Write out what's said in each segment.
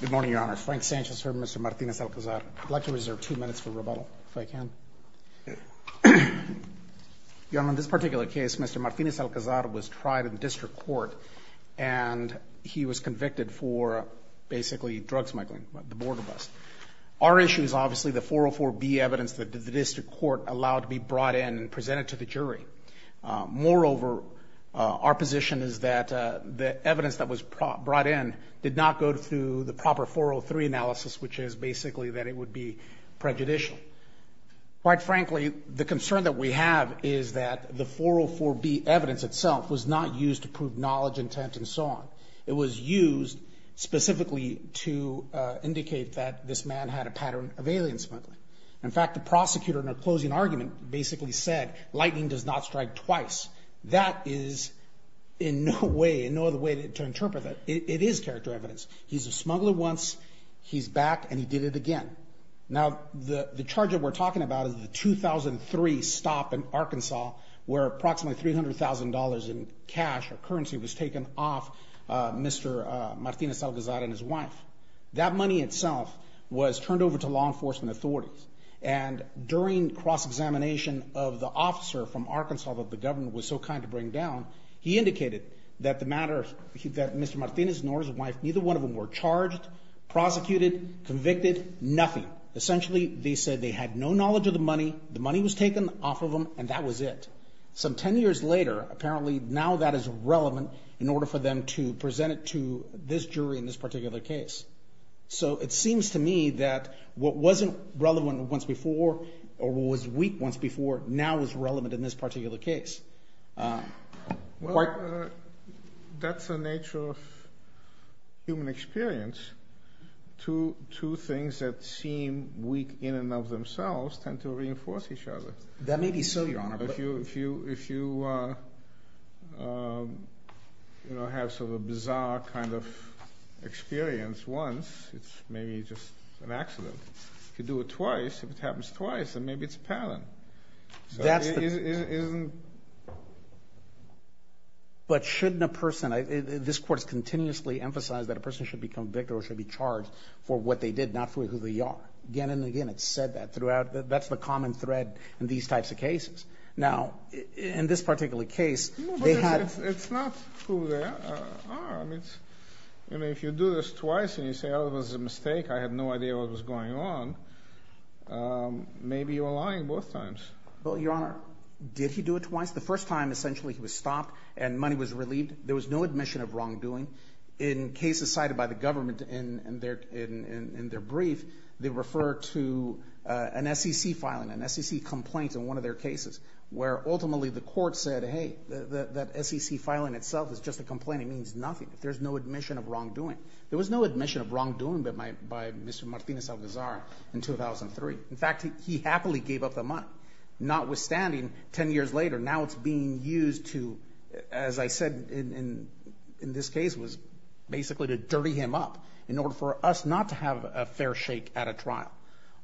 Good morning, Your Honor. Frank Sanchez here, Mr. Martinez-Alcazar. I'd like to reserve two minutes for rebuttal, if I can. Your Honor, in this particular case, Mr. Martinez-Alcazar was tried in the district court and he was convicted for basically drug smuggling, the border bust. Our issue is obviously the 404B evidence that the district court allowed to be brought in and presented to the jury. Moreover, our position is that the evidence that was brought in did not go through the proper 403 analysis, which is basically that it would be prejudicial. Quite frankly, the concern that we have is that the 404B evidence itself was not used to prove knowledge, intent, and so on. It was used specifically to indicate that this man had a pattern of alien smuggling. In fact, the prosecutor in her closing argument basically said, lightning does not strike twice. That is in no way, in no other way to interpret that. It is character evidence. He's a smuggler once, he's back, and he did it again. Now, the charge that we're talking about is the 2003 stop in Arkansas where approximately $300,000 in cash or currency was taken off Mr. Martinez-Alcazar and his wife. That money itself was turned over to law enforcement authorities. And during cross-examination of the officer from Arkansas that the governor was so kind to bring down, he indicated that Mr. Martinez nor his wife, neither one of them were charged, prosecuted, convicted, nothing. Essentially, they said they had no knowledge of the money, the money was taken off of them, and that was it. Some 10 years later, apparently now that is relevant in order for them to present it to this jury in this particular case. So it seems to me that what wasn't relevant once before, or what was weak once before, now is relevant in this particular case. Well, that's the nature of human experience. Two things that seem weak in and of themselves tend to reinforce each other. That may be so, Your Honor. If you have sort of a bizarre kind of experience once, it's maybe just an accident. If you do it twice, if it happens twice, then maybe it's a pattern. That's the... So it isn't... But shouldn't a person, this court has continuously emphasized that a person should be convicted or should be charged for what they did, not for who they are. Again and again, it's said that throughout. That's the common thread in these types of cases. Now, in this particular case, they had... No, but it's not who they are. I mean, if you do this twice and you say, oh, it was a mistake, I had no idea what was going on, maybe you are lying both times. Well, Your Honor, did he do it twice? The first time, essentially, he was stopped and money was relieved. There was no admission of wrongdoing. In cases cited by the government in their brief, they refer to an SEC filing, an SEC complaint in one of their cases, where ultimately the court said, hey, that SEC filing itself is just a complaint. It means nothing. There's no admission of wrongdoing. There was no admission of wrongdoing by Mr. Martinez-Algazar in 2003. In fact, he happily gave up the money. Notwithstanding, 10 years later, now it's being used to, as I said in this case, was basically to dirty him up in order for us not to have a fair shake at a trial.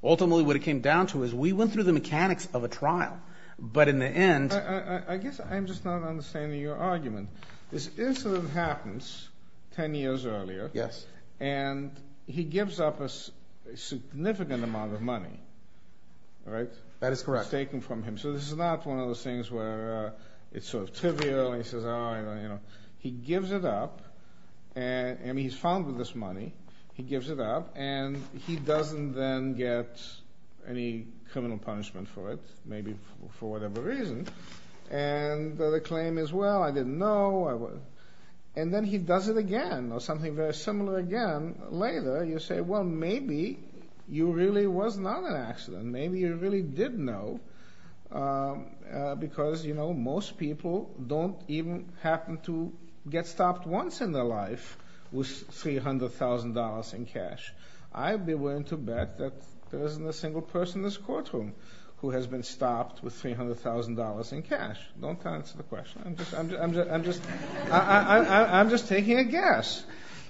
Ultimately, what it came down to is we went through the mechanics of a trial, but in the end... I guess I'm just not understanding your argument. This incident happens 10 years earlier. Yes. And he gives up a significant amount of money, right? That is correct. Staken from him. So this is not one of those things where it's sort of trivial and he says, oh, you know. He gives it up, and he's found with this money. He gives it up, and he doesn't then get any criminal punishment for it, maybe for whatever reason. And the claim is, well, I didn't know. And then he does it again or something very similar again later. You say, well, maybe you really was not an accident. Maybe you really did know because, you know, most people don't even happen to get stopped once in their life with $300,000 in cash. I'm willing to bet that there isn't a single person in this courtroom who has been stopped with $300,000 in cash. Don't answer the question. I'm just taking a guess.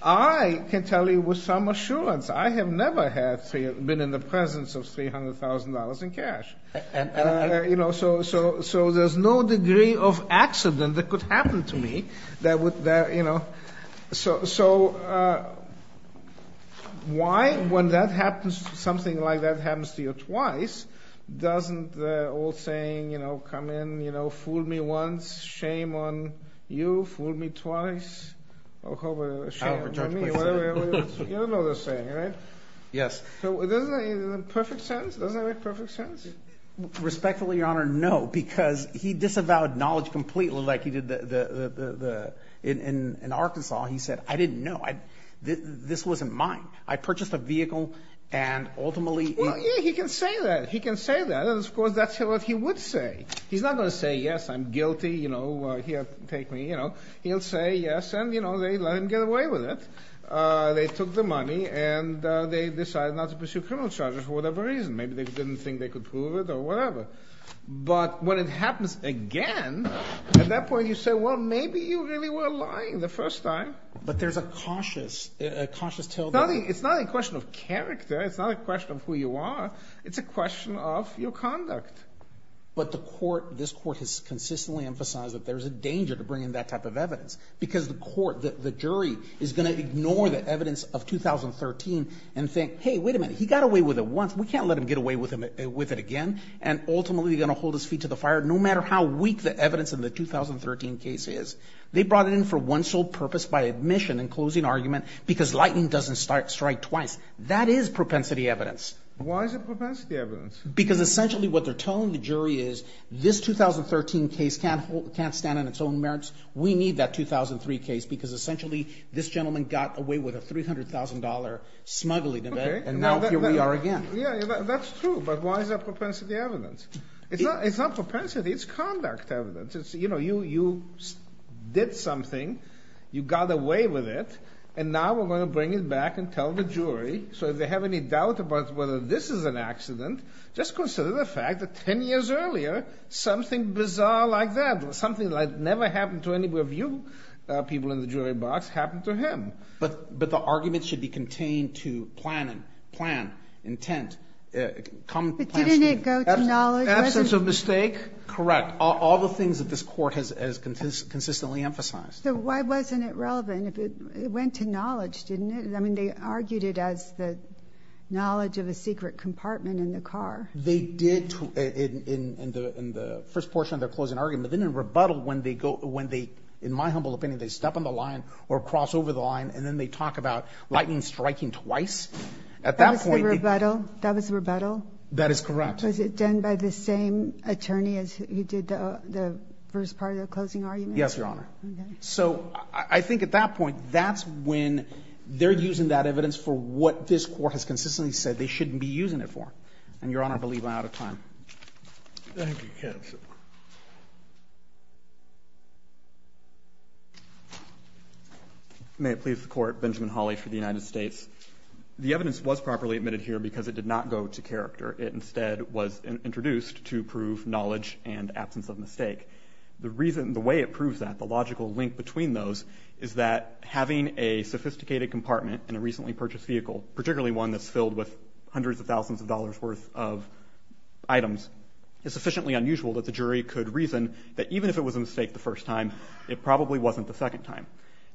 I can tell you with some assurance. I have never had been in the presence of $300,000 in cash. You know, so there's no degree of accident that could happen to me that would, you know. So why when that happens, something like that happens to you twice, doesn't the old saying, you know, come in, you know, fool me once, shame on you, fool me twice. You don't know this saying, right? Yes. Doesn't that make perfect sense? Respectfully, Your Honor, no, because he disavowed knowledge completely like he did in Arkansas. He said, I didn't know. This wasn't mine. I purchased a vehicle and ultimately. Well, yeah, he can say that. He can say that. And, of course, that's what he would say. He's not going to say, yes, I'm guilty, you know, here, take me, you know. He'll say, yes, and, you know, they let him get away with it. They took the money, and they decided not to pursue criminal charges for whatever reason. Maybe they didn't think they could prove it or whatever. But when it happens again, at that point, you say, well, maybe you really were lying the first time. But there's a cautious, a cautious tilt. It's not a question of character. It's not a question of who you are. It's a question of your conduct. But the court, this court has consistently emphasized that there's a danger to bringing that type of evidence, because the court, the jury is going to ignore the evidence of 2013 and think, hey, wait a minute. He got away with it once. We can't let him get away with it again. And ultimately, he's going to hold his feet to the fire, no matter how weak the evidence in the 2013 case is. They brought it in for one sole purpose, by admission and closing argument, because lightning doesn't strike twice. That is propensity evidence. Why is it propensity evidence? Because essentially what they're telling the jury is this 2013 case can't stand on its own merits. We need that 2003 case, because essentially this gentleman got away with a $300,000 smuggling event. And now here we are again. Yeah, that's true. But why is that propensity evidence? It's not propensity. It's conduct evidence. It's, you know, you did something. You got away with it. And now we're going to bring it back and tell the jury. So if they have any doubt about whether this is an accident, just consider the fact that 10 years earlier, something bizarre like that, something that never happened to any of you people in the jury box, happened to him. But the argument should be contained to plan and plan, intent. Come plan. But didn't it go to knowledge? Absence of mistake. Correct. All the things that this Court has consistently emphasized. So why wasn't it relevant? It went to knowledge, didn't it? I mean, they argued it as the knowledge of a secret compartment in the car. They did in the first portion of their closing argument. Then in rebuttal when they go, when they, in my humble opinion, they step on the line or cross over the line, and then they talk about lightning striking twice. At that point. That was the rebuttal? That is correct. Was it done by the same attorney as who did the first part of the closing argument? Yes, Your Honor. Okay. So I think at that point, that's when they're using that evidence for what this Court has consistently said they shouldn't be using it for. And, Your Honor, I believe I'm out of time. Thank you, counsel. May it please the Court. Benjamin Hawley for the United States. The evidence was properly admitted here because it did not go to character. It instead was introduced to prove knowledge and absence of mistake. The reason, the way it proves that, the logical link between those, is that having a sophisticated compartment in a recently purchased vehicle, particularly one that's filled with hundreds of thousands of dollars worth of items, is sufficiently unusual that the jury could reason that even if it was a mistake the first time, it probably wasn't the second time.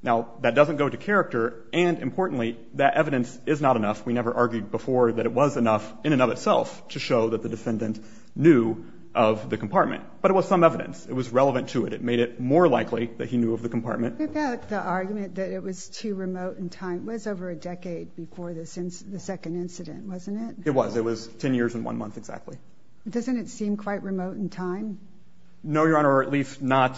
Now, that doesn't go to character. And, importantly, that evidence is not enough. We never argued before that it was enough in and of itself to show that the defendant knew of the compartment. But it was some evidence. It was relevant to it. It made it more likely that he knew of the compartment. The argument that it was too remote in time was over a decade before the second incident, wasn't it? It was. It was 10 years and one month exactly. Doesn't it seem quite remote in time? No, Your Honor, or at least not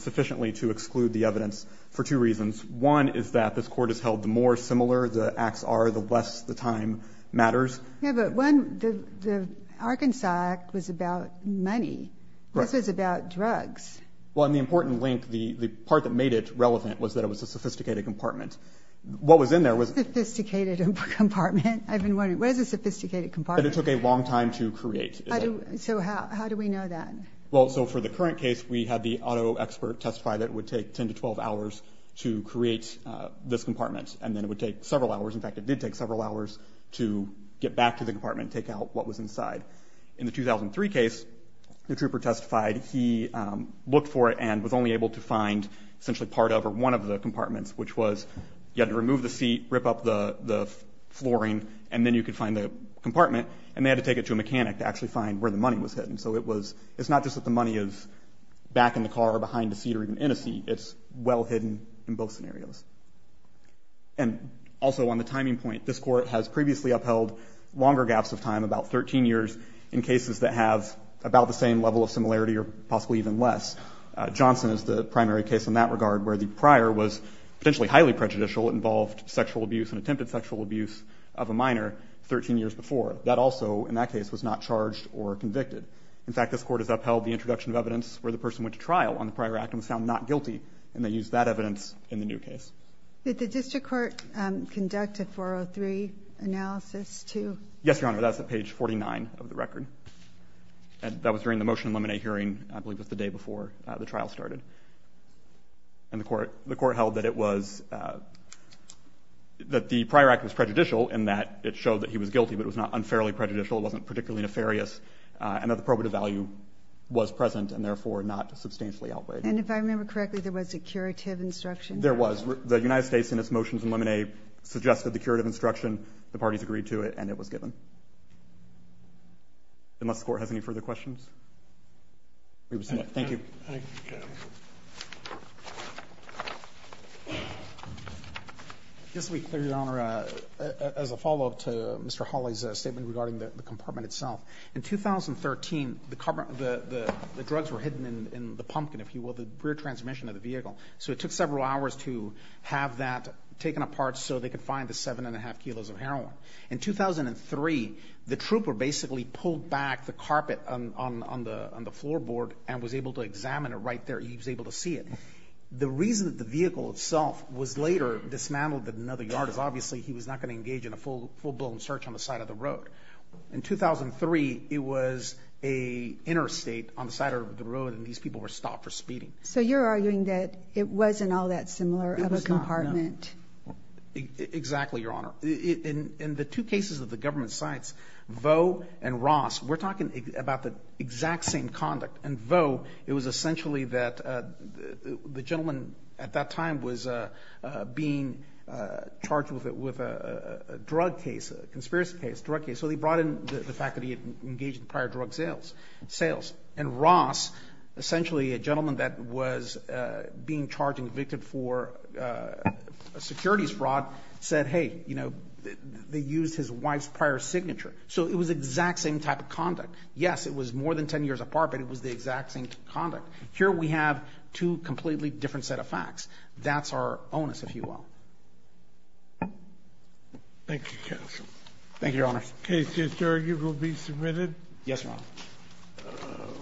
sufficiently to exclude the evidence for two reasons. One is that this Court has held the more similar the acts are, the less the time matters. Yeah, but one, the Arkansas Act was about money. Right. This was about drugs. Well, and the important link, the part that made it relevant was that it was a sophisticated compartment. What was in there was- A sophisticated compartment? I've been wondering, what is a sophisticated compartment? That it took a long time to create. So how do we know that? Well, so for the current case, we had the auto expert testify that it would take 10 to 12 hours to create this compartment. And then it would take several hours. In fact, it did take several hours to get back to the compartment and take out what was inside. In the 2003 case, the trooper testified he looked for it and was only able to find essentially part of or one of the compartments, which was you had to remove the seat, rip up the flooring, and then you could find the compartment. And they had to take it to a mechanic to actually find where the money was hidden. So it's not just that the money is back in the car or behind a seat or even in a seat. It's well hidden in both scenarios. And also on the timing point, this Court has previously upheld longer gaps of time, about 13 years, in cases that have about the same level of similarity or possibly even less. Johnson is the primary case in that regard, where the prior was potentially highly prejudicial. It involved sexual abuse and attempted sexual abuse of a minor 13 years before. That also, in that case, was not charged or convicted. In fact, this Court has upheld the introduction of evidence where the person went to trial on the prior act and found not guilty. And they used that evidence in the new case. Did the district court conduct a 403 analysis, too? Yes, Your Honor. That's at page 49 of the record. That was during the motion and lemonade hearing. I believe it was the day before the trial started. And the court held that it was, that the prior act was prejudicial in that it showed that he was guilty, but it was not unfairly prejudicial. It wasn't particularly nefarious. And that the probative value was present and therefore not substantially outweighed. And if I remember correctly, there was a curative instruction? There was. The United States, in its motions and lemonade, suggested the curative instruction. The parties agreed to it, and it was given. Unless the Court has any further questions. Thank you. Thank you, counsel. This week, Your Honor, as a follow-up to Mr. Hawley's statement regarding the compartment itself, in 2013, the drugs were hidden in the pumpkin, if you will, the rear transmission of the vehicle. So it took several hours to have that taken apart so they could find the 7 1⁄2 kilos of heroin. In 2003, the trooper basically pulled back the carpet on the floorboard and was able to examine it right there. He was able to see it. The reason that the vehicle itself was later dismantled to another yard is obviously he was not going to engage in a full-blown search on the side of the road. In 2003, it was an interstate on the side of the road, and these people were stopped for speeding. So you're arguing that it wasn't all that similar of a compartment. It was not, no. Exactly, Your Honor. In the two cases of the government sites, Vaux and Ross, we're talking about the exact same conduct. In Vaux, it was essentially that the gentleman at that time was being charged with a drug case, a conspiracy case, a drug case. So they brought in the fact that he had engaged in prior drug sales. And Ross, essentially a gentleman that was being charged and convicted for a securities fraud, said, hey, you know, they used his wife's prior signature. So it was the exact same type of conduct. Yes, it was more than 10 years apart, but it was the exact same conduct. Here we have two completely different set of facts. That's our onus, if you will. Thank you, counsel. Thank you, Your Honor. The case is adjourned. You will be submitted. Yes, Your Honor.